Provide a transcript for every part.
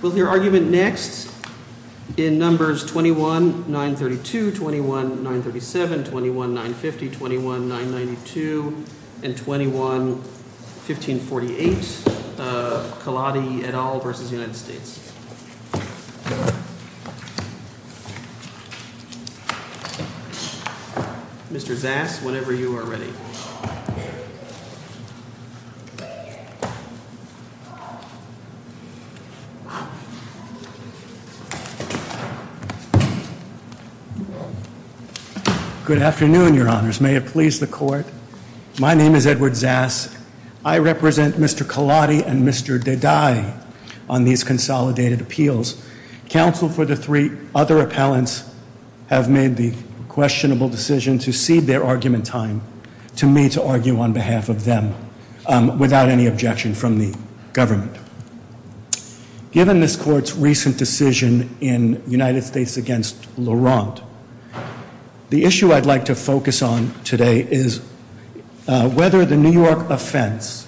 With your argument next. In numbers 21 9 32 21 9 37 21 9 50 21 9 92 Good afternoon, your honors. May it please the court. My name is Edward Zass. I represent Mr Kalani and Mr Did I on these consolidated appeals? Counsel for the three other appellants have made the questionable decision to see their argument time to me to argue on behalf of them without any objection from the government. Given this court's recent decision in United States against Laurent. The issue I'd like to focus on today is. Whether the New York offense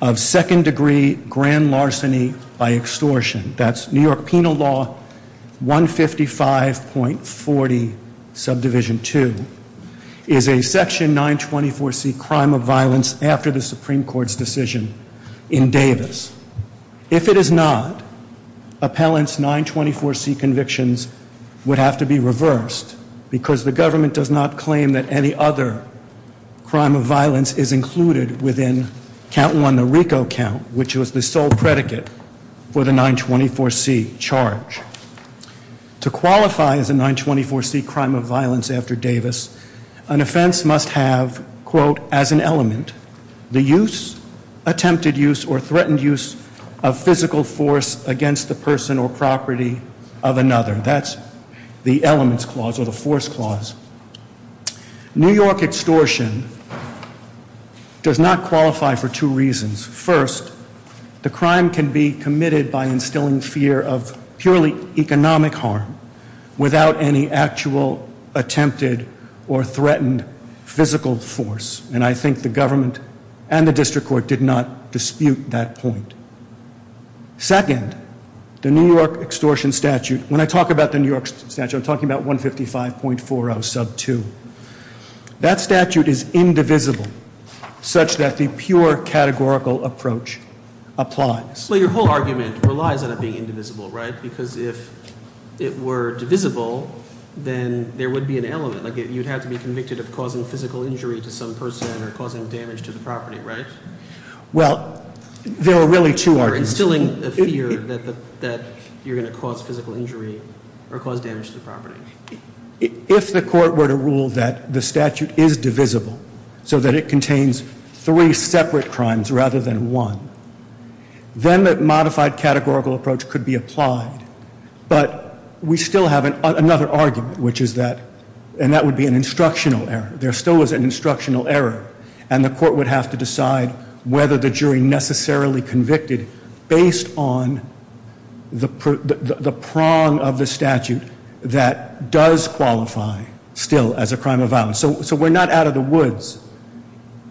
of second degree grand larceny by extortion. That's New York penal law. 155 point 40 subdivision two is a section 9 24 C crime of violence after the Supreme Court's decision in Davis. If it is not. Appellants 9 24 C convictions. Would have to be reversed because the government does not claim that any other. Crime of violence is included within count one the Rico count, which was the sole predicate. For the 9 24 C charge. To qualify as a 9 24 C crime of violence after Davis. An offense must have quote as an element. The use attempted use or threatened use of physical force against the person or property of another. That's the elements clause of the force clause. New York extortion. Does not qualify for two reasons. First. The crime can be committed by instilling fear of purely economic harm. Without any actual attempted or threatened physical force. And I think the government and the district court did not dispute that point. Second. The New York extortion statute. When I talk about the New York statute talking about 155 point 40 sub two. That statute is indivisible such that the pure categorical approach applies. So your whole argument relies on it being indivisible, right? Because if it were divisible. Then there would be an element like you'd have to be convicted of causing physical injury to some person or causing damage to the property, right? Well, there are really two are instilling a fear that you're going to cause physical injury or cause damage to the property. If the court were to rule that the statute is divisible. So that it contains three separate crimes rather than one. Then that modified categorical approach could be applied. But we still have another argument, which is that. And that would be an instructional error. There still was an instructional error. And the court would have to decide whether the jury necessarily convicted. Based on the prong of the statute that does qualify still as a crime of violence. So we're not out of the woods.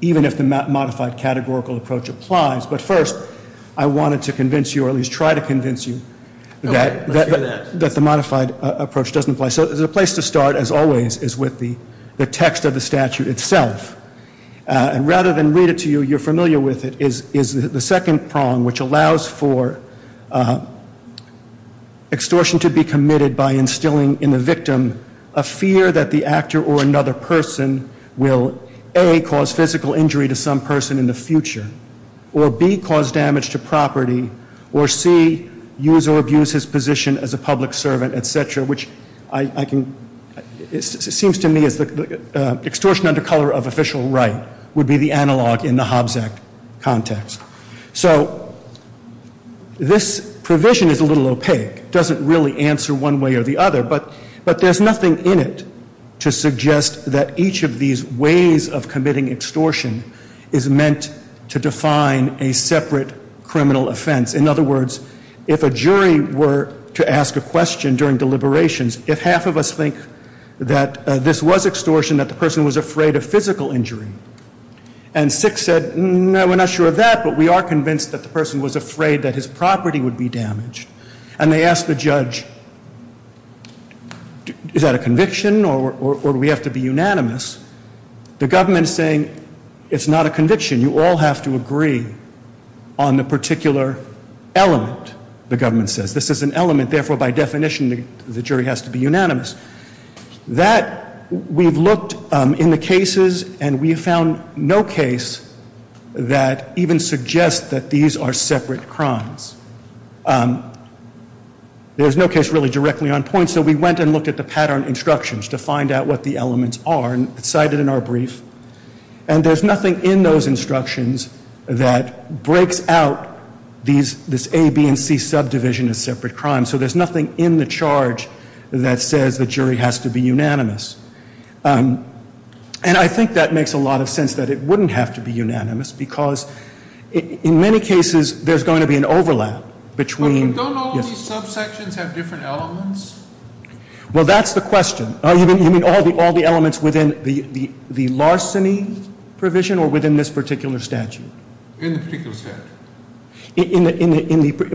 Even if the modified categorical approach applies. But first I wanted to convince you or at least try to convince you that the modified approach doesn't apply. So the place to start as always is with the text of the statute itself. And rather than read it to you, you're familiar with it. Is the second prong which allows for extortion to be committed by instilling in the victim. A fear that the actor or another person will. A, cause physical injury to some person in the future. Or B, cause damage to property. Or C, use or abuse his position as a public servant, etc. Which I can, it seems to me as the extortion under color of official right would be the analog in the Hobbs Act context. So this provision is a little opaque. Doesn't really answer one way or the other. But there's nothing in it to suggest that each of these ways of committing extortion is meant to define a separate criminal offense. In other words, if a jury were to ask a question during deliberations. If half of us think that this was extortion, that the person was afraid of physical injury. And six said, no, we're not sure of that. But we are convinced that the person was afraid that his property would be damaged. And they asked the judge, is that a conviction or do we have to be unanimous? The government is saying, it's not a conviction. You all have to agree on the particular element, the government says. This is an element. Therefore, by definition, the jury has to be unanimous. That, we've looked in the cases and we found no case that even suggests that these are separate crimes. There's no case really directly on point. So we went and looked at the pattern instructions to find out what the elements are. And it's cited in our brief. And there's nothing in those instructions that breaks out this A, B, and C subdivision as separate crimes. So there's nothing in the charge that says the jury has to be unanimous. And I think that makes a lot of sense that it wouldn't have to be unanimous. Because in many cases, there's going to be an overlap between. But don't all these subsections have different elements? Well, that's the question. You mean all the elements within the larceny provision or within this particular statute? In the particular statute.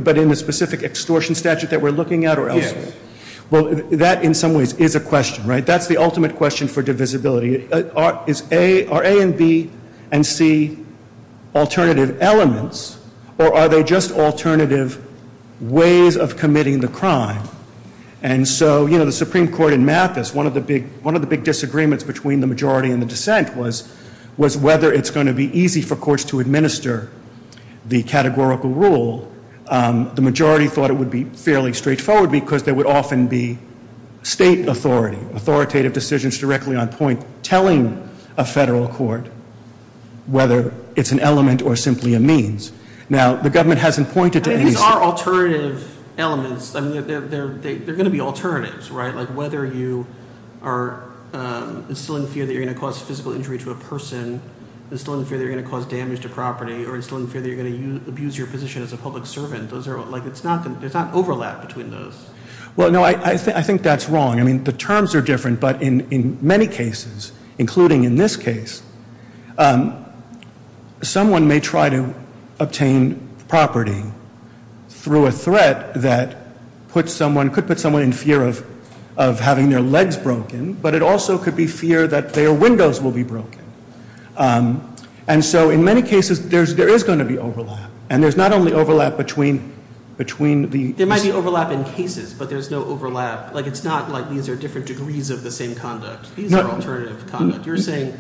But in the specific extortion statute that we're looking at or elsewhere? Yes. Well, that in some ways is a question, right? That's the ultimate question for divisibility. Are A and B and C alternative elements or are they just alternative ways of committing the crime? And so, you know, the Supreme Court in Mathis, one of the big disagreements between the majority and the dissent was whether it's going to be easy for courts to administer the categorical rule. The majority thought it would be fairly straightforward because there would often be state authority, authoritative decisions directly on point telling a federal court whether it's an element or simply a means. Now, the government hasn't pointed to any. There are alternative elements. They're going to be alternatives, right? Like whether you are instilling fear that you're going to cause physical injury to a person, instilling fear that you're going to cause damage to property, or instilling fear that you're going to abuse your position as a public servant. It's not overlap between those. Well, no, I think that's wrong. I mean the terms are different, but in many cases, including in this case, someone may try to obtain property through a threat that could put someone in fear of having their legs broken, but it also could be fear that their windows will be broken. And so in many cases, there is going to be overlap. And there's not only overlap between the... There might be overlap in cases, but there's no overlap. Like it's not like these are different degrees of the same conduct. These are alternative conduct. You're saying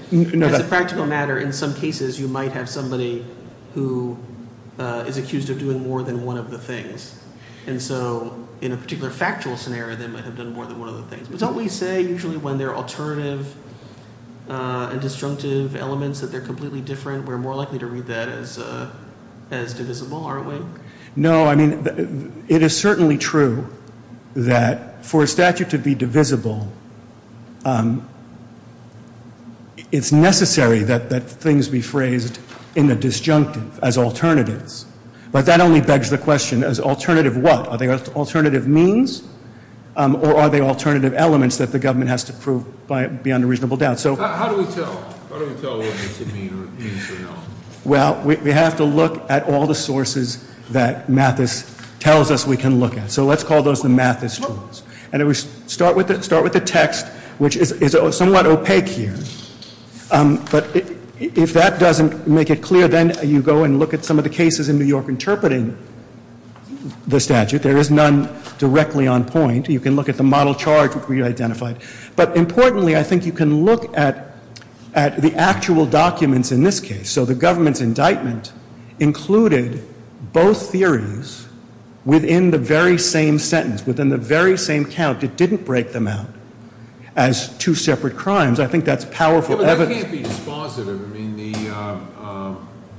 as a practical matter, in some cases, you might have somebody who is accused of doing more than one of the things. And so in a particular factual scenario, they might have done more than one of the things. But don't we say usually when there are alternative and disjunctive elements that they're completely different? We're more likely to read that as divisible, aren't we? No, I mean, it is certainly true that for a statute to be divisible, it's necessary that things be phrased in the disjunctive as alternatives. But that only begs the question, as alternative what? Are they alternative means? Or are they alternative elements that the government has to prove beyond a reasonable doubt? How do we tell? How do we tell whether it's a means or not? Well, we have to look at all the sources that Mathis tells us we can look at. So let's call those the Mathis tools. And we start with the text, which is somewhat opaque here. But if that doesn't make it clear, then you go and look at some of the cases in New York interpreting the statute. There is none directly on point. You can look at the model charge, which we identified. But importantly, I think you can look at the actual documents in this case. So the government's indictment included both theories within the very same sentence, within the very same count. It didn't break them out as two separate crimes. I think that's powerful evidence. But that can't be dispositive. I mean, the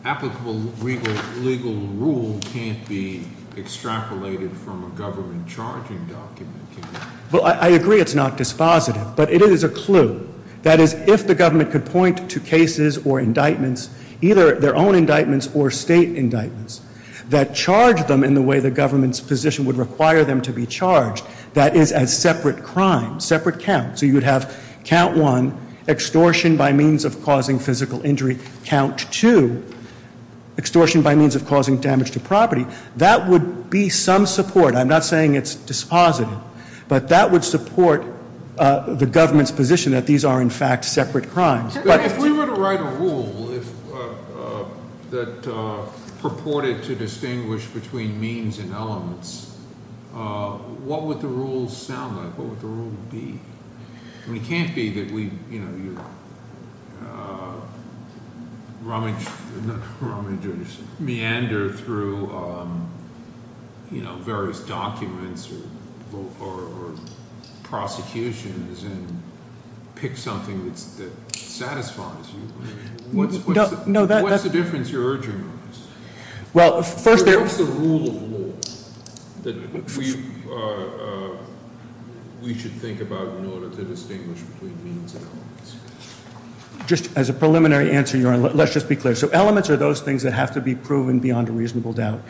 applicable legal rule can't be extrapolated from a government charging document, can it? Well, I agree it's not dispositive. But it is a clue. That is, if the government could point to cases or indictments, either their own indictments or state indictments, that charge them in the way the government's position would require them to be charged, that is as separate crimes, separate counts. So you would have count one, extortion by means of causing physical injury. Count two, extortion by means of causing damage to property. That would be some support. I'm not saying it's dispositive. But that would support the government's position that these are, in fact, separate crimes. But if we were to write a rule that purported to distinguish between means and elements, what would the rule sound like? What would the rule be? I mean, it can't be that we, you know, meander through various documents or prosecutions and pick something that satisfies you. What's the difference you're urging on us? Well, first there- What's the rule of law that we should think about in order to distinguish between means and elements? Just as a preliminary answer, Your Honor, let's just be clear. So elements are those things that have to be proven beyond a reasonable doubt.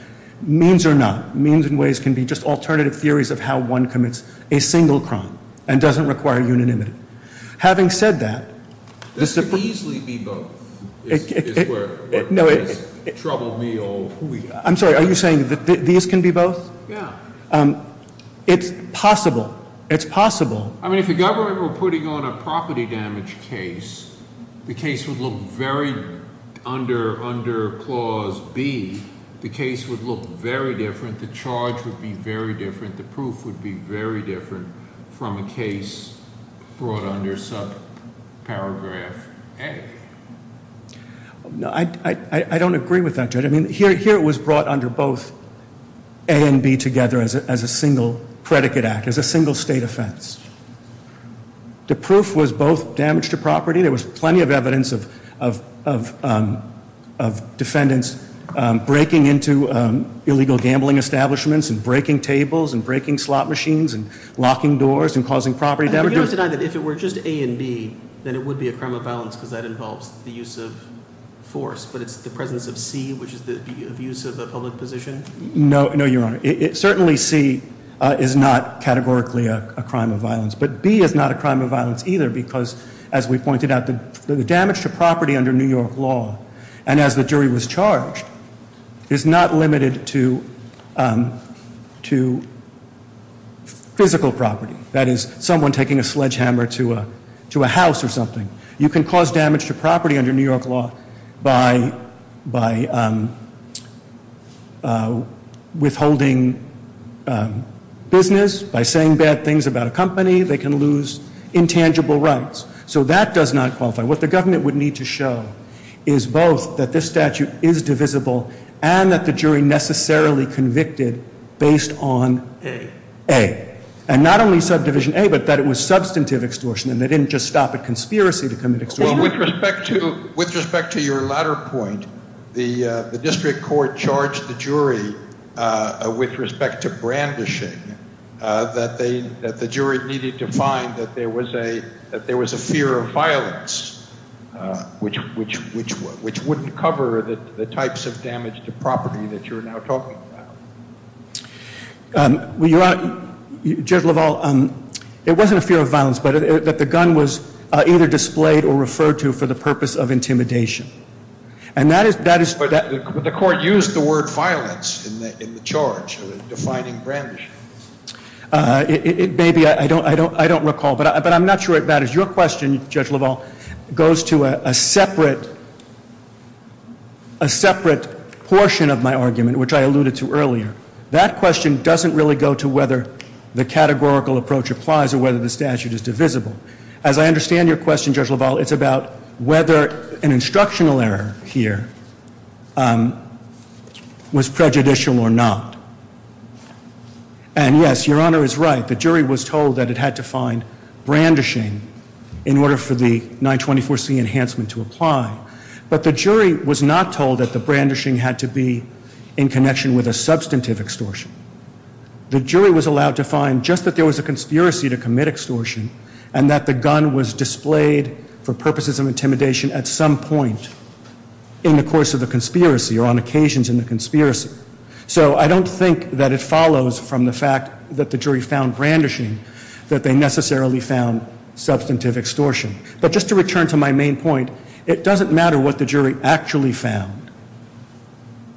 Means are not. Means in ways can be just alternative theories of how one commits a single crime and doesn't require unanimity. Having said that- This could easily be both. Is where it's troubled me all week. I'm sorry, are you saying that these can be both? Yeah. It's possible. It's possible. I mean, if the government were putting on a property damage case, the case would look very, under clause B, the case would look very different. The charge would be very different. The proof would be very different from a case brought under subparagraph A. I don't agree with that, Judge. I mean, here it was brought under both A and B together as a single predicate act, as a single state offense. The proof was both damage to property. There was plenty of evidence of defendants breaking into illegal gambling establishments, and breaking tables, and breaking slot machines, and locking doors, and causing property damage. If it were just A and B, then it would be a crime of violence because that involves the use of force. But it's the presence of C, which is the abuse of a public position? No, Your Honor. Certainly C is not categorically a crime of violence. But B is not a crime of violence either because, as we pointed out, the damage to property under New York law, and as the jury was charged, is not limited to physical property. That is someone taking a sledgehammer to a house or something. You can cause damage to property under New York law by withholding business, by saying bad things about a company. They can lose intangible rights. So that does not qualify. What the government would need to show is both that this statute is divisible and that the jury necessarily convicted based on A. And not only subdivision A, but that it was substantive extortion, and they didn't just stop at conspiracy to commit extortion. With respect to your latter point, the district court charged the jury with respect to brandishing, that the jury needed to find that there was a fear of violence, which wouldn't cover the types of damage to property that you're now talking about. Judge LaValle, it wasn't a fear of violence, but that the gun was either displayed or referred to for the purpose of intimidation. And that is where the court used the word violence in the charge, defining brandishing. It may be. I don't recall, but I'm not sure it matters. Your question, Judge LaValle, goes to a separate portion of my argument, which I alluded to earlier. That question doesn't really go to whether the categorical approach applies or whether the statute is divisible. As I understand your question, Judge LaValle, it's about whether an instructional error here was prejudicial or not. And, yes, Your Honor is right. The jury was told that it had to find brandishing in order for the 924C enhancement to apply. But the jury was not told that the brandishing had to be in connection with a substantive extortion. The jury was allowed to find just that there was a conspiracy to commit extortion and that the gun was displayed for purposes of intimidation at some point in the course of the conspiracy or on occasions in the conspiracy. So I don't think that it follows from the fact that the jury found brandishing that they necessarily found substantive extortion. But just to return to my main point, it doesn't matter what the jury actually found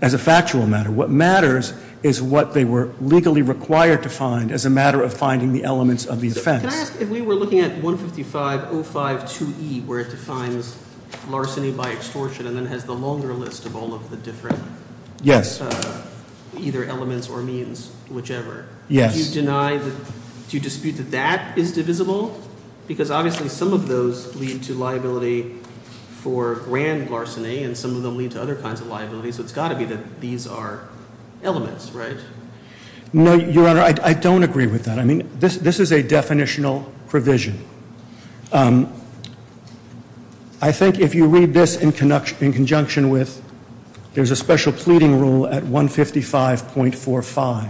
as a factual matter. What matters is what they were legally required to find as a matter of finding the elements of the offense. Can I ask if we were looking at 155.052E where it defines larceny by extortion and then has the longer list of all of the different either elements or means, whichever. Yes. Do you dispute that that is divisible? Because obviously some of those lead to liability for grand larceny and some of them lead to other kinds of liability. So it's got to be that these are elements, right? No, Your Honor, I don't agree with that. I mean, this is a definitional provision. I think if you read this in conjunction with there's a special pleading rule at 155.45,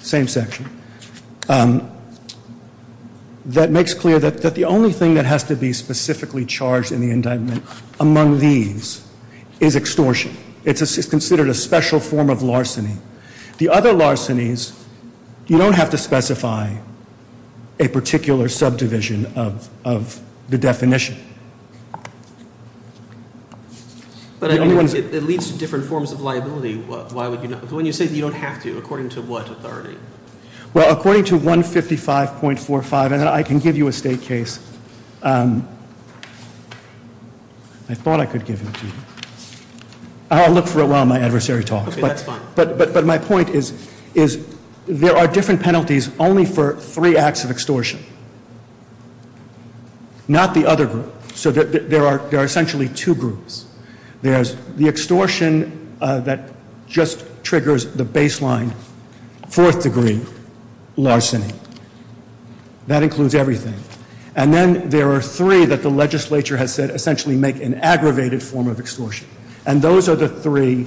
same section, that makes clear that the only thing that has to be specifically charged in the indictment among these is extortion. It's considered a special form of larceny. The other larcenies, you don't have to specify a particular subdivision of the definition. But it leads to different forms of liability. Why would you not? When you say that you don't have to, according to what authority? Well, according to 155.45, and I can give you a state case. I thought I could give it to you. I'll look for it while my adversary talks. Okay, that's fine. But my point is there are different penalties only for three acts of extortion, not the other group. So there are essentially two groups. There's the extortion that just triggers the baseline fourth-degree larceny. That includes everything. And then there are three that the legislature has said essentially make an aggravated form of extortion. And those are the three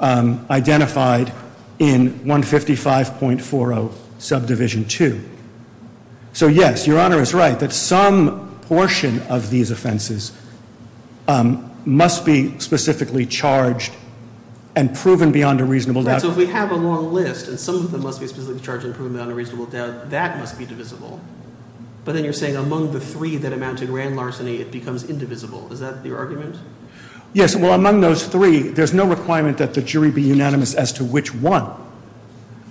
identified in 155.40 Subdivision 2. So, yes, Your Honor is right that some portion of these offenses must be specifically charged and proven beyond a reasonable doubt. Right, so if we have a long list and some of them must be specifically charged and proven beyond a reasonable doubt, that must be divisible. But then you're saying among the three that amount to grand larceny, it becomes indivisible. Is that your argument? Yes. Well, among those three, there's no requirement that the jury be unanimous as to which one.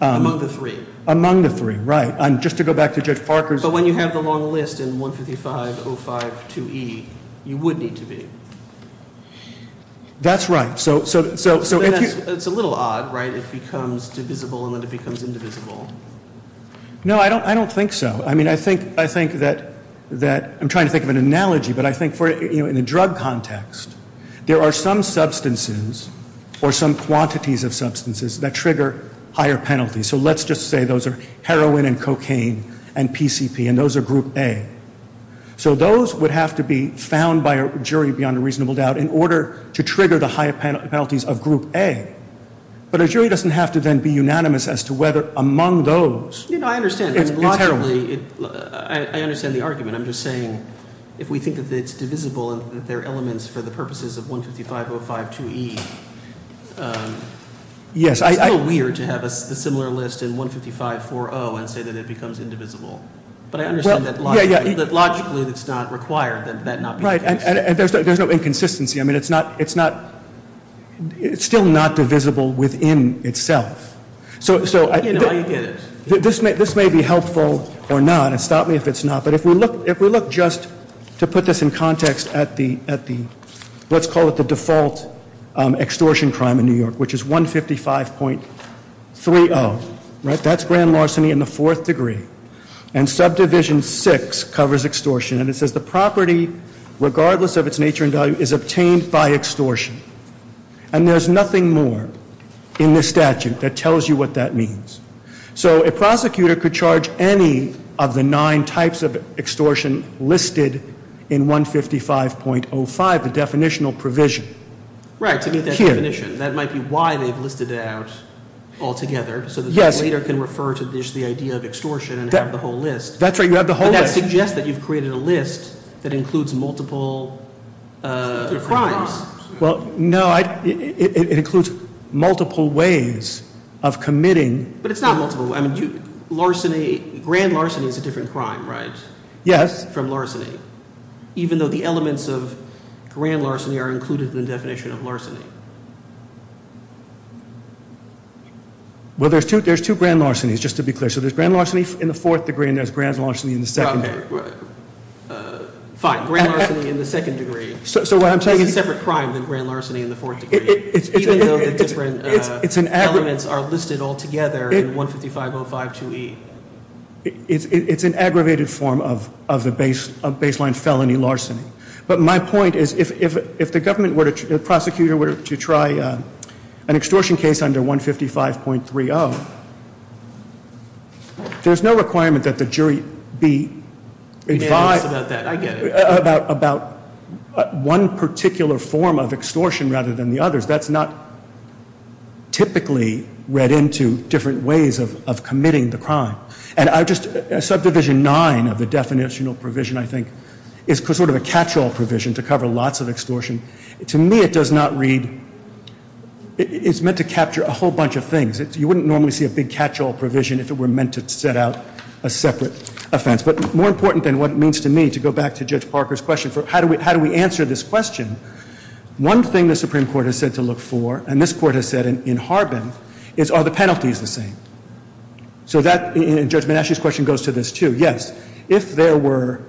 Among the three. Among the three, right. And just to go back to Judge Parker's. But when you have the long list in 155.052e, you would need to be. That's right. So if you. It's a little odd, right, if it becomes divisible and then it becomes indivisible. No, I don't think so. I'm trying to think of an analogy, but I think in the drug context, there are some substances or some quantities of substances that trigger higher penalties. So let's just say those are heroin and cocaine and PCP and those are group A. So those would have to be found by a jury beyond a reasonable doubt in order to trigger the higher penalties of group A. But a jury doesn't have to then be unanimous as to whether among those. You know, I understand. It's terrible. I understand the argument. I'm just saying if we think that it's divisible and that there are elements for the purposes of 155.052e. Yes. It's a little weird to have a similar list in 155.40 and say that it becomes indivisible. But I understand that logically it's not required that that not be the case. Right. And there's no inconsistency. I mean, it's not. It's still not divisible within itself. So this may be helpful or not. And stop me if it's not. But if we look just to put this in context at the let's call it the default extortion crime in New York, which is 155.30. Right. That's grand larceny in the fourth degree. And subdivision six covers extortion. And it says the property, regardless of its nature and value, is obtained by extortion. And there's nothing more in this statute that tells you what that means. So a prosecutor could charge any of the nine types of extortion listed in 155.05, the definitional provision. Right, to meet that definition. Here. That might be why they've listed it out all together. Yes. So that they later can refer to just the idea of extortion and have the whole list. That's right. You have the whole list. But that suggests that you've created a list that includes multiple crimes. Well, no. It includes multiple ways of committing. But it's not multiple. I mean, larceny, grand larceny is a different crime, right? Yes. From larceny. Even though the elements of grand larceny are included in the definition of larceny. Well, there's two grand larcenies, just to be clear. So there's grand larceny in the fourth degree and there's grand larceny in the second degree. Okay. Fine. Grand larceny in the second degree. It's a separate crime than grand larceny in the fourth degree. Even though the different elements are listed all together in 155.052E. It's an aggravated form of baseline felony larceny. But my point is if the prosecutor were to try an extortion case under 155.30, there's no requirement that the jury be advised about one particular form of extortion rather than the others. That's not typically read into different ways of committing the crime. And Subdivision 9 of the definitional provision, I think, is sort of a catch-all provision to cover lots of extortion. To me, it does not read, it's meant to capture a whole bunch of things. You wouldn't normally see a big catch-all provision if it were meant to set out a separate offense. But more important than what it means to me, to go back to Judge Parker's question, how do we answer this question? One thing the Supreme Court has said to look for, and this Court has said in Harbin, is are the penalties the same? So that, in Judge Manasci's question, goes to this, too. Yes, if there were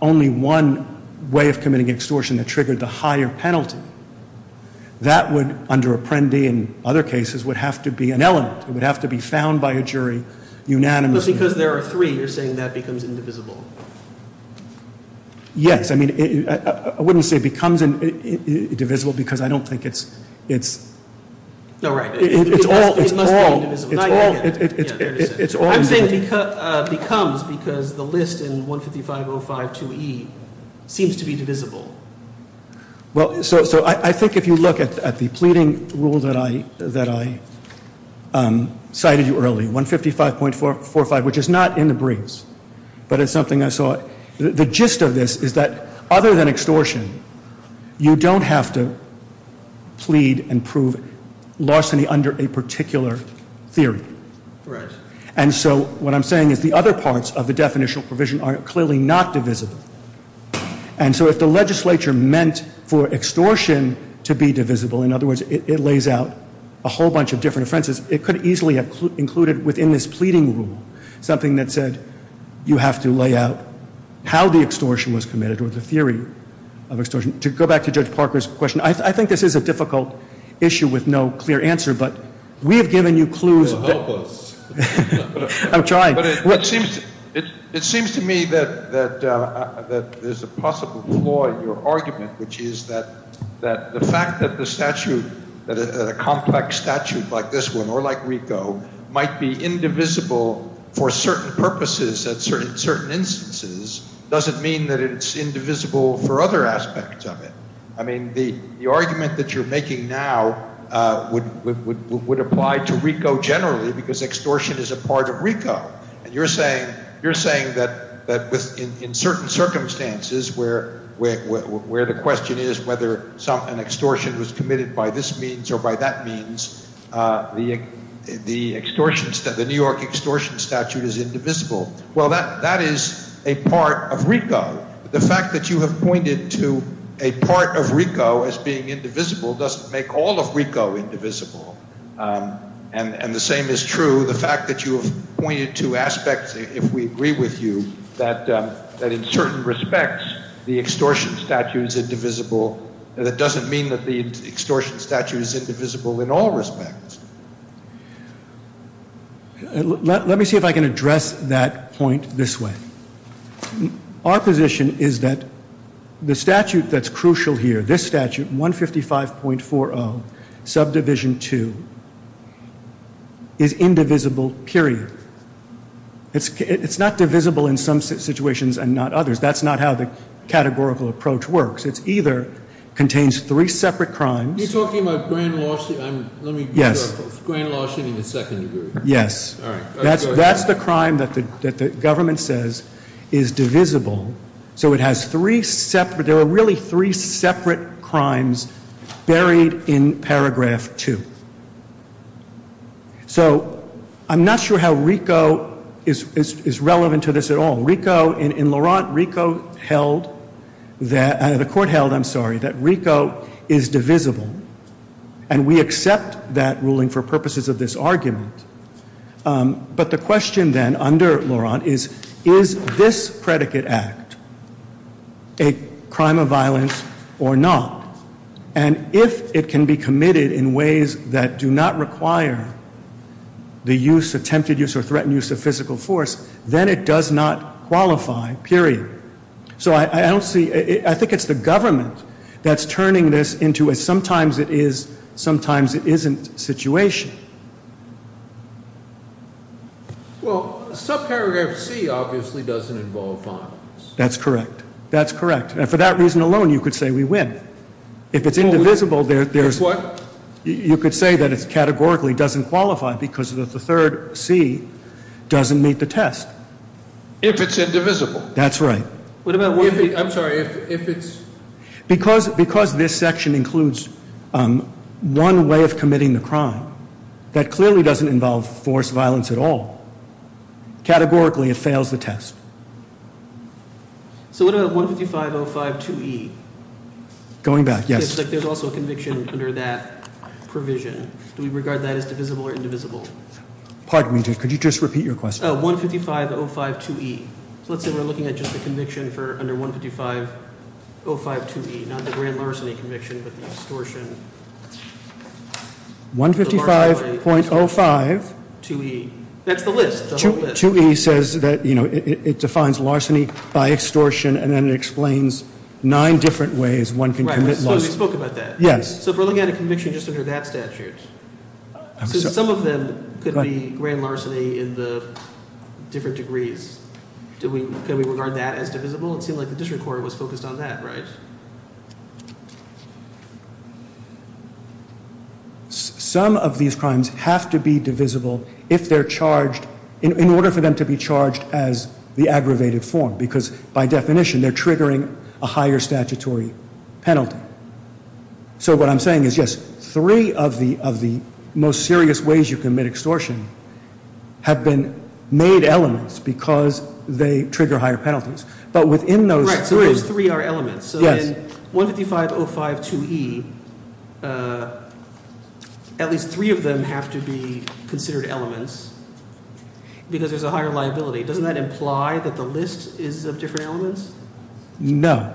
only one way of committing extortion that triggered the higher penalty, that would, under Apprendi and other cases, would have to be an element. It would have to be found by a jury unanimously. But because there are three, you're saying that becomes indivisible. Yes. I mean, I wouldn't say it becomes indivisible because I don't think it's – No, right. It's all – It must be indivisible. It's all – I'm saying becomes because the list in 155.05.2e seems to be divisible. Well, so I think if you look at the pleading rule that I cited you early, 155.45, which is not in the briefs, but it's something I saw, the gist of this is that other than extortion, you don't have to plead and prove larceny under a particular theory. Right. And so what I'm saying is the other parts of the definitional provision are clearly not divisible. And so if the legislature meant for extortion to be divisible, in other words, it lays out a whole bunch of different offenses, it could easily have included within this pleading rule something that said you have to lay out how the extortion was committed or the theory of extortion. To go back to Judge Parker's question, I think this is a difficult issue with no clear answer, but we have given you clues. You're hopeless. I'm trying. But it seems to me that there's a possible flaw in your argument, which is that the fact that a complex statute like this one or like RICO might be indivisible for certain purposes at certain instances doesn't mean that it's indivisible for other aspects of it. I mean, the argument that you're making now would apply to RICO generally because extortion is a part of RICO. And you're saying that in certain circumstances where the question is whether an extortion was committed by this means or by that means, the New York extortion statute is indivisible. Well, that is a part of RICO. The fact that you have pointed to a part of RICO as being indivisible doesn't make all of RICO indivisible. And the same is true, the fact that you have pointed to aspects, if we agree with you, that in certain respects the extortion statute is indivisible, that doesn't mean that the extortion statute is indivisible in all respects. Let me see if I can address that point this way. Our position is that the statute that's crucial here, this statute, 155.40, subdivision 2, is indivisible, period. It's not divisible in some situations and not others. That's not how the categorical approach works. It either contains three separate crimes. You're talking about grand lawsuit? Yes. Let me get to a grand lawsuit in the second degree. Yes. All right. That's the crime that the government says is divisible. So it has three separate, there are really three separate crimes buried in paragraph 2. So I'm not sure how RICO is relevant to this at all. RICO, in Laurent, RICO held, the court held, I'm sorry, that RICO is divisible. And we accept that ruling for purposes of this argument. But the question then under Laurent is, is this predicate act a crime of violence or not? And if it can be committed in ways that do not require the use, attempted use or threatened use of physical force, then it does not qualify, period. So I don't see, I think it's the government that's turning this into a sometimes it is, sometimes it isn't situation. Well, subparagraph C obviously doesn't involve violence. That's correct. That's correct. And for that reason alone, you could say we win. If it's indivisible, there's, you could say that it's categorically doesn't qualify because of the third C doesn't meet the test. If it's indivisible. That's right. I'm sorry, if it's. Because this section includes one way of committing the crime, that clearly doesn't involve force violence at all. Categorically, it fails the test. So what about 155052E? Going back, yes. There's also a conviction under that provision. Do we regard that as divisible or indivisible? Pardon me, could you just repeat your question? Oh, 155052E. So let's say we're looking at just the conviction for under 155052E, not the grand larceny conviction, but the extortion. 155.05. 2E. That's the list, the whole list. 2E says that, you know, it defines larceny by extortion and then it explains nine different ways one can commit larceny. Right, so we spoke about that. Yes. So if we're looking at a conviction just under that statute. So some of them could be grand larceny in the different degrees. Can we regard that as divisible? It seemed like the district court was focused on that, right? Some of these crimes have to be divisible if they're charged, in order for them to be charged as the aggravated form. Because by definition, they're triggering a higher statutory penalty. So what I'm saying is, yes, three of the most serious ways you commit extortion have been made elements because they trigger higher penalties. But within those three. Right, so those three are elements. So then 155052E, at least three of them have to be considered elements because there's a higher liability. Doesn't that imply that the list is of different elements? No.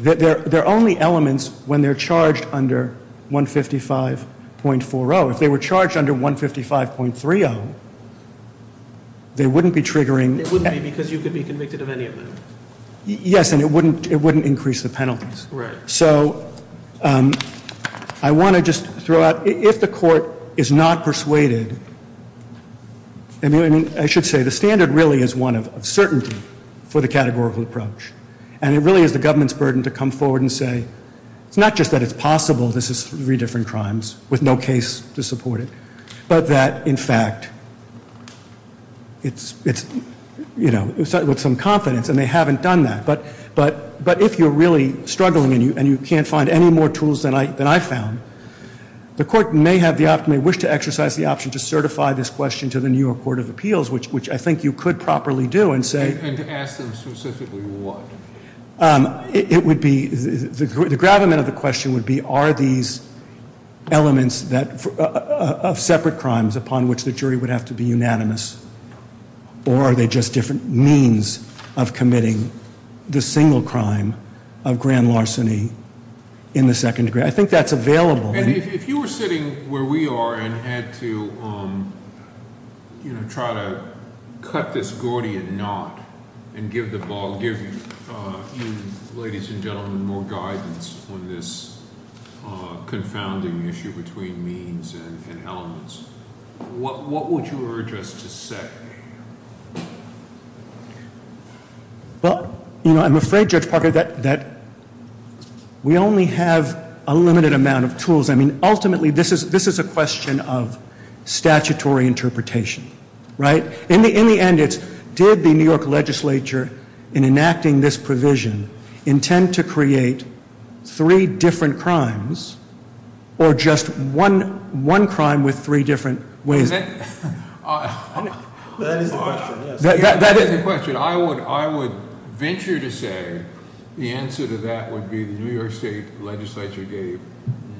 They're only elements when they're charged under 155.40. If they were charged under 155.30, they wouldn't be triggering. It wouldn't be because you could be convicted of any of them. Yes, and it wouldn't increase the penalties. Right. So I want to just throw out, if the court is not persuaded, I mean, I should say the standard really is one of certainty for the categorical approach. And it really is the government's burden to come forward and say, it's not just that it's possible this is three different crimes with no case to support it, but that, in fact, it's, you know, with some confidence. And they haven't done that. But if you're really struggling and you can't find any more tools than I found, the court may have the option, may wish to exercise the option to certify this question to the New York Court of Appeals, which I think you could properly do and say. And to ask them specifically what? It would be, the gravamen of the question would be, are these elements of separate crimes upon which the jury would have to be unanimous, or are they just different means of committing the single crime of grand larceny in the second degree? I think that's available. And if you were sitting where we are and had to, you know, try to cut this Gordian knot and give the ball, give you, ladies and gentlemen, more guidance on this confounding issue between means and elements, what would you urge us to say? Well, you know, I'm afraid, Judge Parker, that we only have a limited amount of tools. I mean, ultimately, this is a question of statutory interpretation. Right? In the end, it's did the New York legislature, in enacting this provision, intend to create three different crimes or just one crime with three different ways? That is the question, yes. That is the question. I would venture to say the answer to that would be the New York state legislature gave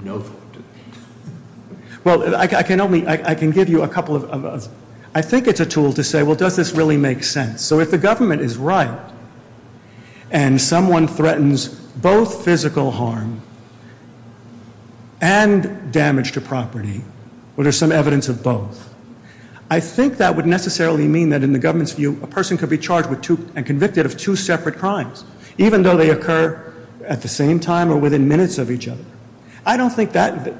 no thought to that. Well, I can only, I can give you a couple of, I think it's a tool to say, well, does this really make sense? So if the government is right and someone threatens both physical harm and damage to property, well, there's some evidence of both. I think that would necessarily mean that, in the government's view, a person could be charged and convicted of two separate crimes, even though they occur at the same time or within minutes of each other. I don't think that,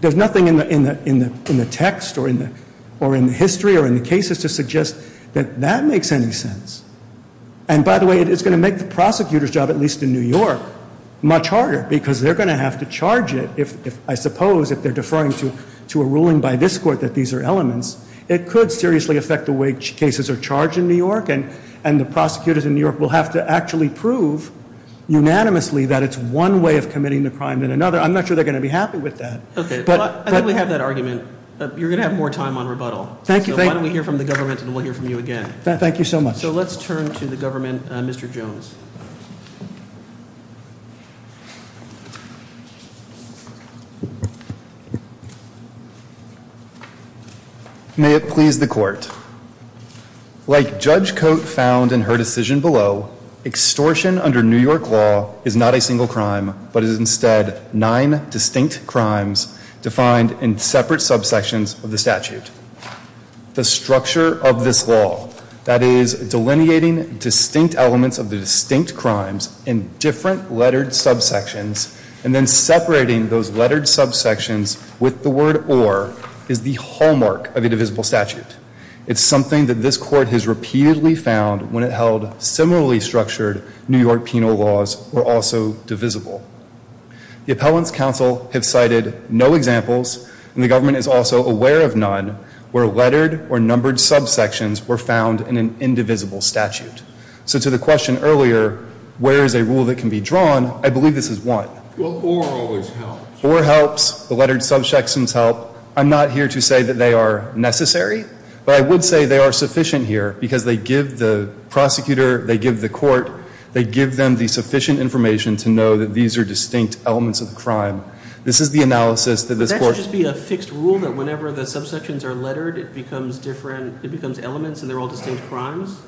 there's nothing in the text or in the history or in the cases to suggest that that makes any sense. And, by the way, it's going to make the prosecutor's job, at least in New York, much harder, because they're going to have to charge it if, I suppose, if they're deferring to a ruling by this court that these are elements. It could seriously affect the way cases are charged in New York, and the prosecutors in New York will have to actually prove unanimously that it's one way of committing the crime than another. I'm not sure they're going to be happy with that. Okay, well, I think we have that argument. You're going to have more time on rebuttal. Thank you. So why don't we hear from the government and we'll hear from you again. Thank you so much. So let's turn to the government. Mr. Jones. May it please the court. Like Judge Cote found in her decision below, extortion under New York law is not a single crime, but is instead nine distinct crimes defined in separate subsections of the statute. The structure of this law, that is, delineating distinct elements of the distinct crimes in different lettered subsections, and then separating those lettered subsections with the word or, is the hallmark of a divisible statute. It's something that this court has repeatedly found when it held similarly structured New York penal laws were also divisible. The appellant's counsel have cited no examples, and the government is also aware of none, where lettered or numbered subsections were found in an indivisible statute. So to the question earlier, where is a rule that can be drawn, I believe this is one. Or always helps. Or helps. The lettered subsections help. I'm not here to say that they are necessary, but I would say they are sufficient here, because they give the prosecutor, they give the court, they give them the sufficient information to know that these are distinct elements of the crime. This is the analysis that this court. Would there just be a fixed rule that whenever the subsections are lettered, it becomes different, it becomes elements, and they're all distinct crimes?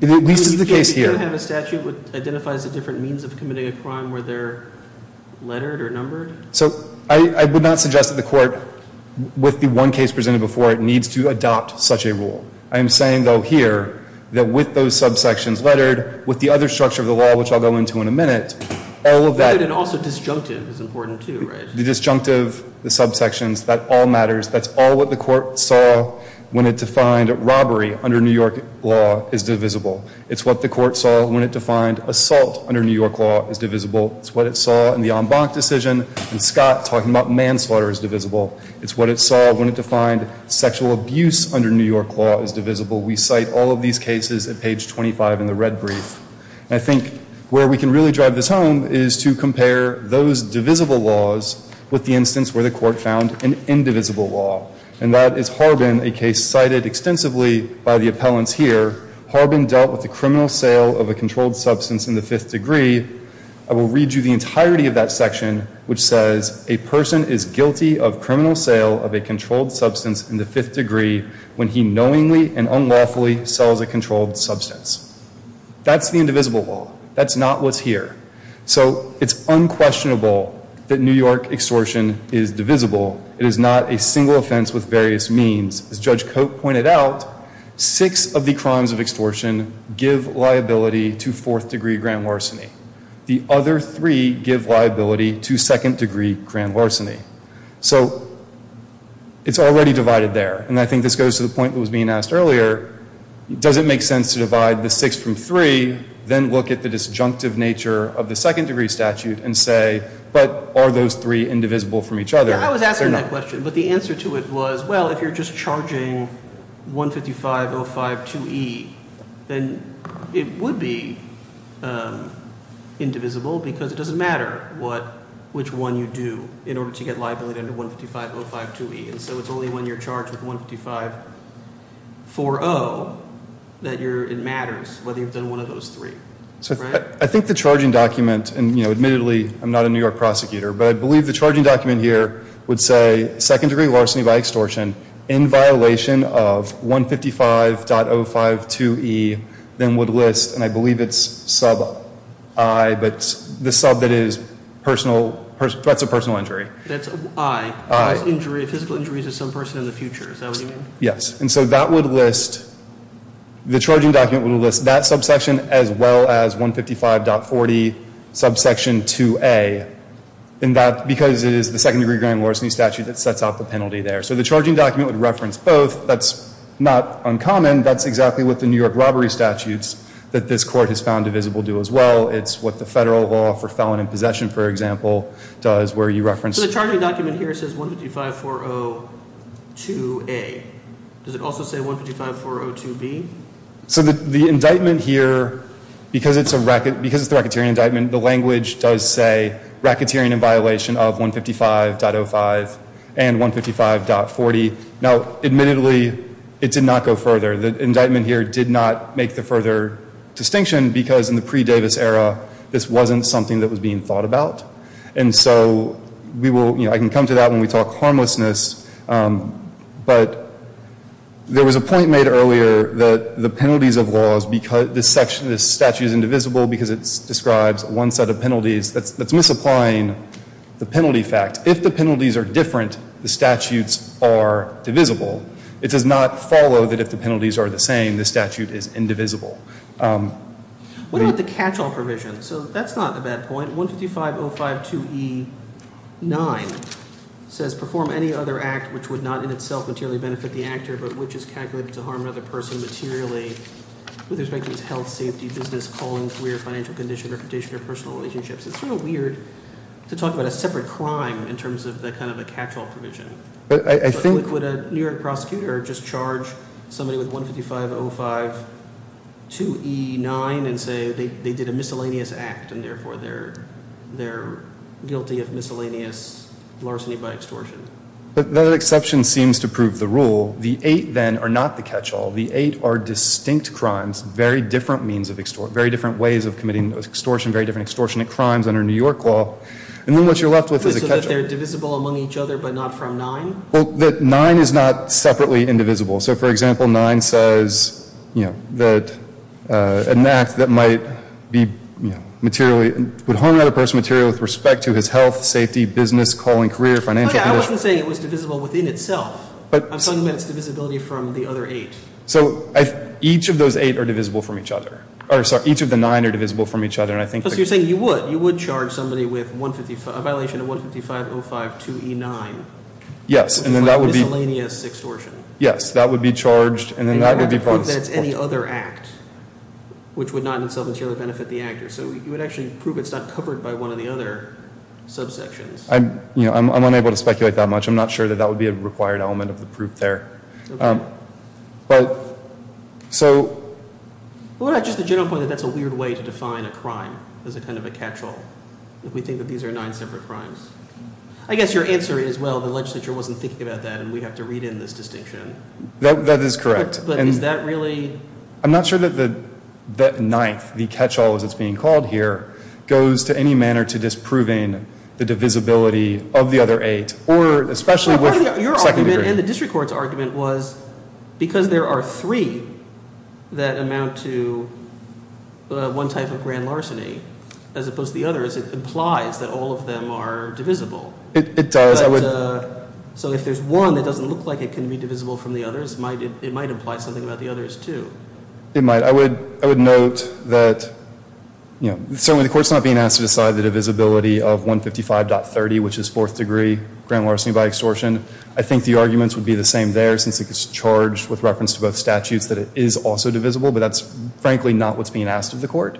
At least in the case here. You can't have a statute that identifies the different means of committing a crime where they're lettered or numbered? So I would not suggest that the court, with the one case presented before it, needs to adopt such a rule. I am saying, though, here, that with those subsections lettered, with the other structure of the law, which I'll go into in a minute, all of that. And also disjunctive is important, too, right? The disjunctive, the subsections, that all matters. That's all what the court saw when it defined robbery under New York law as divisible. It's what the court saw when it defined assault under New York law as divisible. It's what it saw in the en banc decision and Scott talking about manslaughter as divisible. It's what it saw when it defined sexual abuse under New York law as divisible. We cite all of these cases at page 25 in the red brief. And I think where we can really drive this home is to compare those divisible laws with the instance where the court found an indivisible law. And that is Harbin, a case cited extensively by the appellants here. Harbin dealt with the criminal sale of a controlled substance in the fifth degree. I will read you the entirety of that section, which says, a person is guilty of criminal sale of a controlled substance in the fifth degree when he knowingly and unlawfully sells a controlled substance. That's the indivisible law. That's not what's here. So it's unquestionable that New York extortion is divisible. It is not a single offense with various means. As Judge Cote pointed out, six of the crimes of extortion give liability to fourth degree grand larceny. The other three give liability to second degree grand larceny. So it's already divided there. And I think this goes to the point that was being asked earlier. Does it make sense to divide the six from three? Then look at the disjunctive nature of the second degree statute and say, but are those three indivisible from each other? I was asking that question. But the answer to it was, well, if you're just charging 155.052e, then it would be indivisible because it doesn't matter which one you do in order to get liability under 155.052e. And so it's only when you're charged with 155.40 that it matters whether you've done one of those three. I think the charging document, and admittedly I'm not a New York prosecutor, but I believe the charging document here would say second degree larceny by extortion in violation of 155.052e, then would list, and I believe it's sub I, but the sub that is threats of personal injury. That's I, physical injuries of some person in the future. Is that what you mean? Yes. And so that would list, the charging document would list that subsection as well as 155.40 subsection 2a, because it is the second degree grand larceny statute that sets out the penalty there. So the charging document would reference both. That's not uncommon. That's exactly what the New York robbery statutes that this court has found divisible do as well. It's what the federal law for felon in possession, for example, does where you reference. So the charging document here says 155.402a. Does it also say 155.402b? So the indictment here, because it's the racketeering indictment, the language does say racketeering in violation of 155.05 and 155.40. Now, admittedly, it did not go further. The indictment here did not make the further distinction, because in the pre-Davis era, this wasn't something that was being thought about. And so we will, you know, I can come to that when we talk harmlessness. But there was a point made earlier that the penalties of laws, this statute is indivisible because it describes one set of penalties. That's misapplying the penalty fact. If the penalties are different, the statutes are divisible. It does not follow that if the penalties are the same, the statute is indivisible. What about the catch-all provision? So that's not a bad point. 155.052e9 says perform any other act which would not in itself materially benefit the actor, but which is calculated to harm another person materially with respect to its health, safety, business, calling, career, financial condition, reputation, or personal relationships. It's sort of weird to talk about a separate crime in terms of the kind of a catch-all provision. Would a New York prosecutor just charge somebody with 155.052e9 and say they did a miscellaneous act and therefore they're guilty of miscellaneous larceny by extortion? That exception seems to prove the rule. The eight then are not the catch-all. The eight are distinct crimes, very different ways of committing extortion, very different extortionate crimes under New York law. And then what you're left with is a catch-all. So you're saying that they're divisible among each other but not from nine? Well, that nine is not separately indivisible. So, for example, nine says, you know, that an act that might be materially would harm another person materially with respect to his health, safety, business, calling, career, financial condition. But I wasn't saying it was divisible within itself. I'm talking about its divisibility from the other eight. So each of those eight are divisible from each other. Or, sorry, each of the nine are divisible from each other. Plus you're saying you would. You would charge somebody with a violation of 155.05.2e9. Yes, and then that would be. Miscellaneous extortion. Yes, that would be charged and then that would be brought to court. And you have to prove that it's any other act which would not in itself materially benefit the actor. So you would actually prove it's not covered by one of the other subsections. I'm unable to speculate that much. Okay. So. Just the general point that that's a weird way to define a crime as a kind of a catch-all. We think that these are nine separate crimes. I guess your answer is, well, the legislature wasn't thinking about that and we have to read in this distinction. That is correct. But is that really. I'm not sure that the ninth, the catch-all as it's being called here, goes to any manner to disproving the divisibility of the other eight. Your argument and the district court's argument was because there are three that amount to one type of grand larceny as opposed to the others, it implies that all of them are divisible. It does. So if there's one that doesn't look like it can be divisible from the others, it might imply something about the others, too. It might. I would note that certainly the court's not being asked to decide the divisibility of 155.30, which is fourth degree grand larceny by extortion. I think the arguments would be the same there since it's charged with reference to both statutes that it is also divisible, but that's frankly not what's being asked of the court.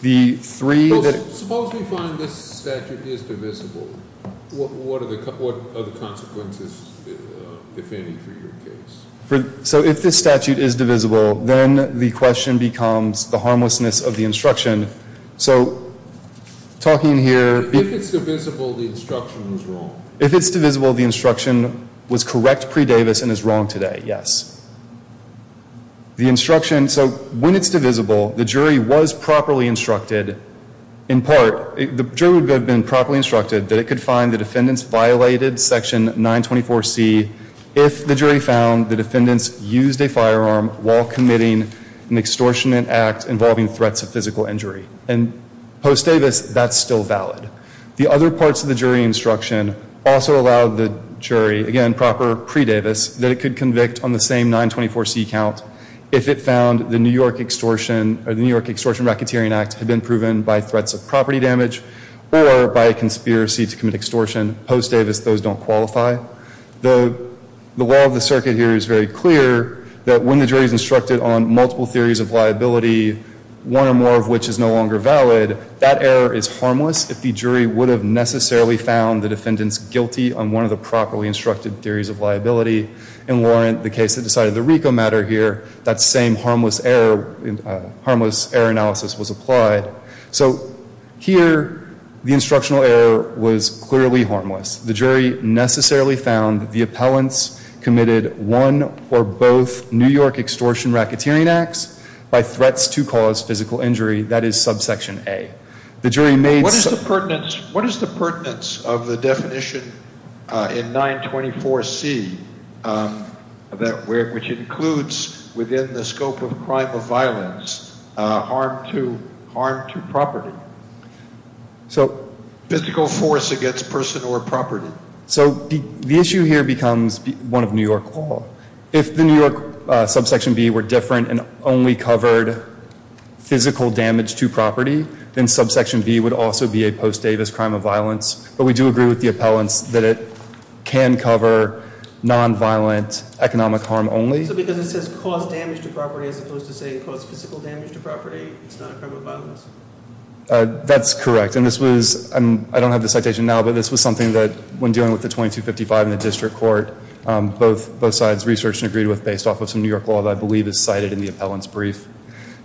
Suppose we find this statute is divisible. What are the consequences, if any, for your case? So if this statute is divisible, then the question becomes the harmlessness of the instruction. So talking here... If it's divisible, the instruction was wrong. If it's divisible, the instruction was correct pre-Davis and is wrong today, yes. The instruction... So when it's divisible, the jury was properly instructed in part... The jury would have been properly instructed that it could find the defendants violated section 924C if the jury found the defendants used a firearm while committing an extortionate act involving threats of physical injury. And post-Davis, that's still valid. The other parts of the jury instruction also allowed the jury, again proper pre-Davis, that it could convict on the same 924C count if it found the New York extortion or the New York extortion racketeering act had been proven by threats of property damage or by a conspiracy to commit extortion. Post-Davis, those don't qualify. The law of the circuit here is very clear that when the jury is instructed on multiple theories of liability, one or more of which is no longer valid, that error is harmless if the jury would have necessarily found the defendants guilty on one of the properly instructed theories of liability. In Warrant, the case that decided the RICO matter here, that same harmless error analysis was applied. So here, the instructional error was clearly harmless. The jury necessarily found the appellants committed one or both New York extortion racketeering acts by threats to cause physical injury. That is subsection A. The jury made— What is the pertinence of the definition in 924C, which includes within the scope of crime of violence, harm to property? Physical force against person or property. So the issue here becomes one of New York law. If the New York subsection B were different and only covered physical damage to property, then subsection B would also be a post-Davis crime of violence. But we do agree with the appellants that it can cover nonviolent economic harm only. So because it says cause damage to property as opposed to say cause physical damage to property, it's not a crime of violence? That's correct. And this was—I don't have the citation now, but this was something that when dealing with the 2255 in the district court, both sides researched and agreed with based off of some New York law that I believe is cited in the appellant's brief.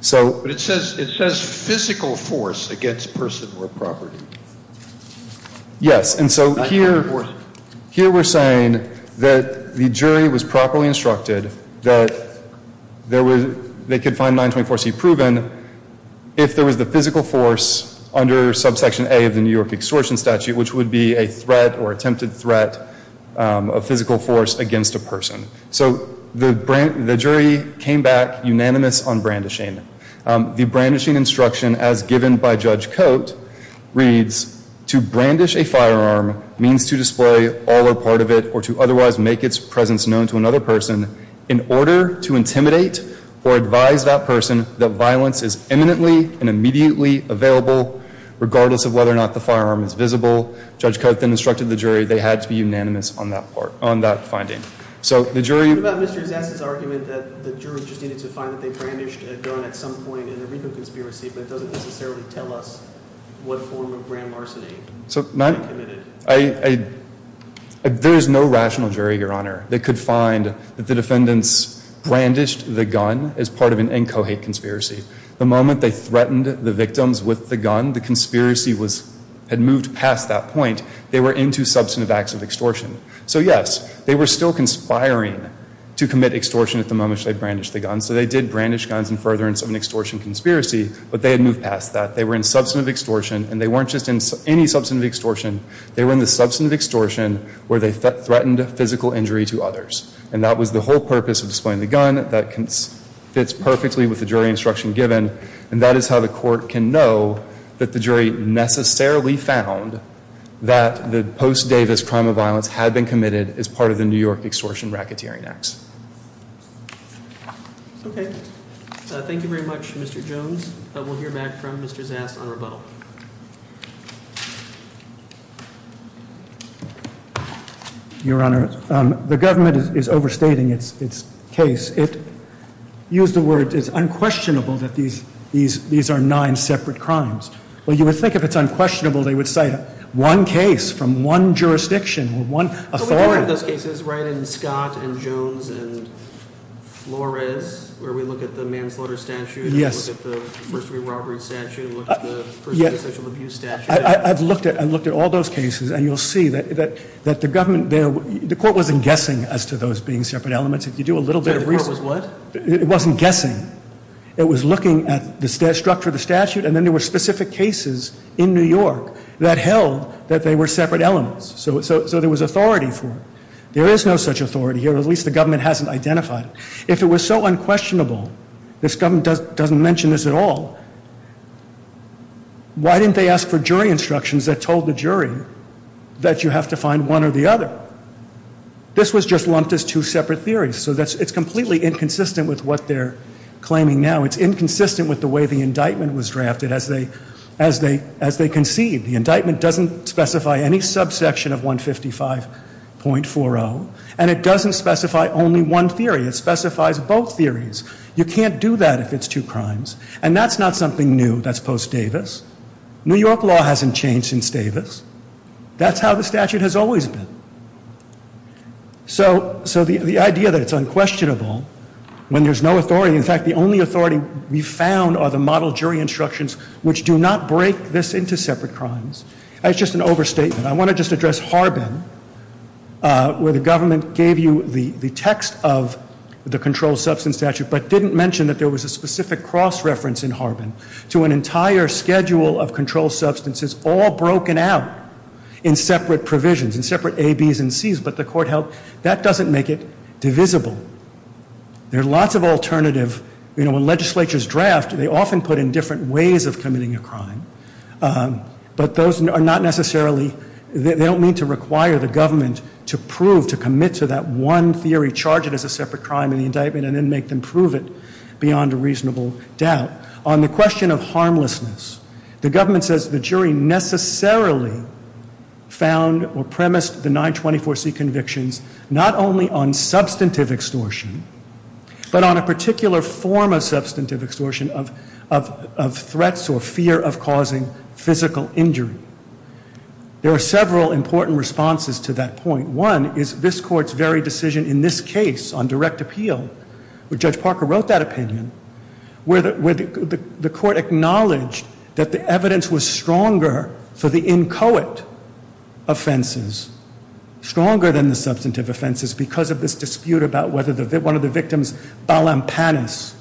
So— But it says physical force against person or property. Yes. And so here— Not physical force. If there was the physical force under subsection A of the New York extortion statute, which would be a threat or attempted threat of physical force against a person. So the jury came back unanimous on brandishing. The brandishing instruction as given by Judge Cote reads, to brandish a firearm means to display all or part of it or to otherwise make its presence known to another person in order to intimidate or advise that person that violence is imminently and immediately available, regardless of whether or not the firearm is visible. Judge Cote then instructed the jury they had to be unanimous on that part—on that finding. So the jury— What about Mr. Zassa's argument that the jury just needed to find that they brandished a gun at some point in a legal conspiracy but it doesn't necessarily tell us what form of grand larceny they committed? There is no rational jury, Your Honor. They could find that the defendants brandished the gun as part of an inchoate conspiracy. The moment they threatened the victims with the gun, the conspiracy had moved past that point. They were into substantive acts of extortion. So yes, they were still conspiring to commit extortion at the moment they brandished the gun. So they did brandish guns in furtherance of an extortion conspiracy, but they had moved past that. They were in substantive extortion, and they weren't just in any substantive extortion. They were in the substantive extortion where they threatened physical injury to others. And that was the whole purpose of displaying the gun. That fits perfectly with the jury instruction given. And that is how the court can know that the jury necessarily found that the post-Davis crime of violence had been committed as part of the New York extortion racketeering acts. Okay. Thank you very much, Mr. Jones. We'll hear back from Mr. Zass on rebuttal. Your Honor, the government is overstating its case. It used the word, it's unquestionable that these are nine separate crimes. Well, you would think if it's unquestionable, they would cite one case from one jurisdiction, one authority. There are more of those cases, right, in Scott and Jones and Flores, where we look at the manslaughter statute. Yes. We look at the first degree robbery statute. We look at the first degree social abuse statute. I've looked at all those cases, and you'll see that the government there, the court wasn't guessing as to those being separate elements. If you do a little bit of research. The court was what? It wasn't guessing. It was looking at the structure of the statute, and then there were specific cases in New York that held that they were separate elements. So there was authority for it. There is no such authority here. At least the government hasn't identified it. If it was so unquestionable, this government doesn't mention this at all, why didn't they ask for jury instructions that told the jury that you have to find one or the other? This was just lumped as two separate theories. So it's completely inconsistent with what they're claiming now. It's inconsistent with the way the indictment was drafted. As they concede, the indictment doesn't specify any subsection of 155.40, and it doesn't specify only one theory. It specifies both theories. You can't do that if it's two crimes, and that's not something new. That's post Davis. New York law hasn't changed since Davis. That's how the statute has always been. So the idea that it's unquestionable when there's no authority. What we found are the model jury instructions, which do not break this into separate crimes. That's just an overstatement. I want to just address Harbin, where the government gave you the text of the controlled substance statute but didn't mention that there was a specific cross-reference in Harbin to an entire schedule of controlled substances all broken out in separate provisions, in separate A, Bs, and Cs, but the court held that doesn't make it divisible. There are lots of alternatives. When legislatures draft, they often put in different ways of committing a crime, but they don't mean to require the government to prove, to commit to that one theory, charge it as a separate crime in the indictment, and then make them prove it beyond a reasonable doubt. On the question of harmlessness, the government says the jury necessarily found or premised the 924C convictions not only on substantive extortion, but on a particular form of substantive extortion of threats or fear of causing physical injury. There are several important responses to that point. One is this Court's very decision in this case on direct appeal, where Judge Parker wrote that opinion, where the Court acknowledged that the evidence was stronger for the inchoate offenses, stronger than the substantive offenses, because of this dispute about whether one of the victims, Balampanis,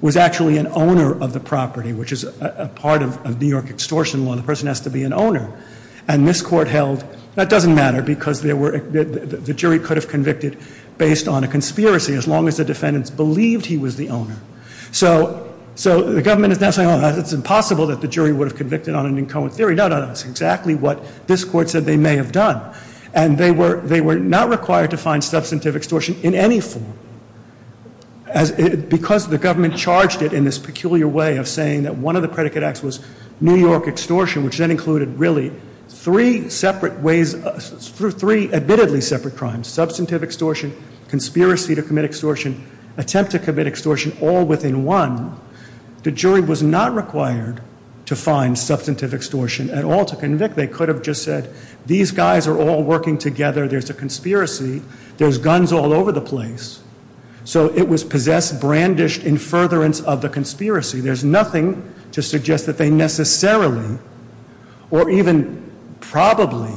was actually an owner of the property, which is a part of New York extortion law. The person has to be an owner. And this Court held that doesn't matter because the jury could have convicted based on a conspiracy as long as the defendants believed he was the owner. So the government is now saying, oh, it's impossible that the jury would have convicted on an inchoate theory. No, no, no, it's exactly what this Court said they may have done. And they were not required to find substantive extortion in any form because the government charged it in this peculiar way of saying that one of the predicate acts was New York extortion, which then included really three separate ways, three admittedly separate crimes, substantive extortion, conspiracy to commit extortion, attempt to commit extortion, all within one. The jury was not required to find substantive extortion at all to convict. They could have just said these guys are all working together. There's a conspiracy. There's guns all over the place. So it was possessed, brandished, in furtherance of the conspiracy. There's nothing to suggest that they necessarily or even probably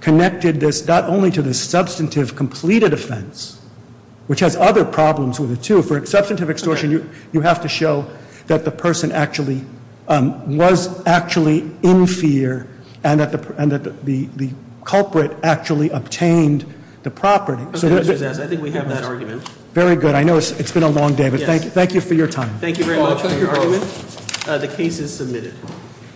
connected this, not only to the substantive completed offense, which has other problems with it, too. For substantive extortion, you have to show that the person actually was actually in fear and that the culprit actually obtained the property. I think we have that argument. Very good. I know it's been a long day, but thank you for your time. Thank you very much for your argument. The case is submitted.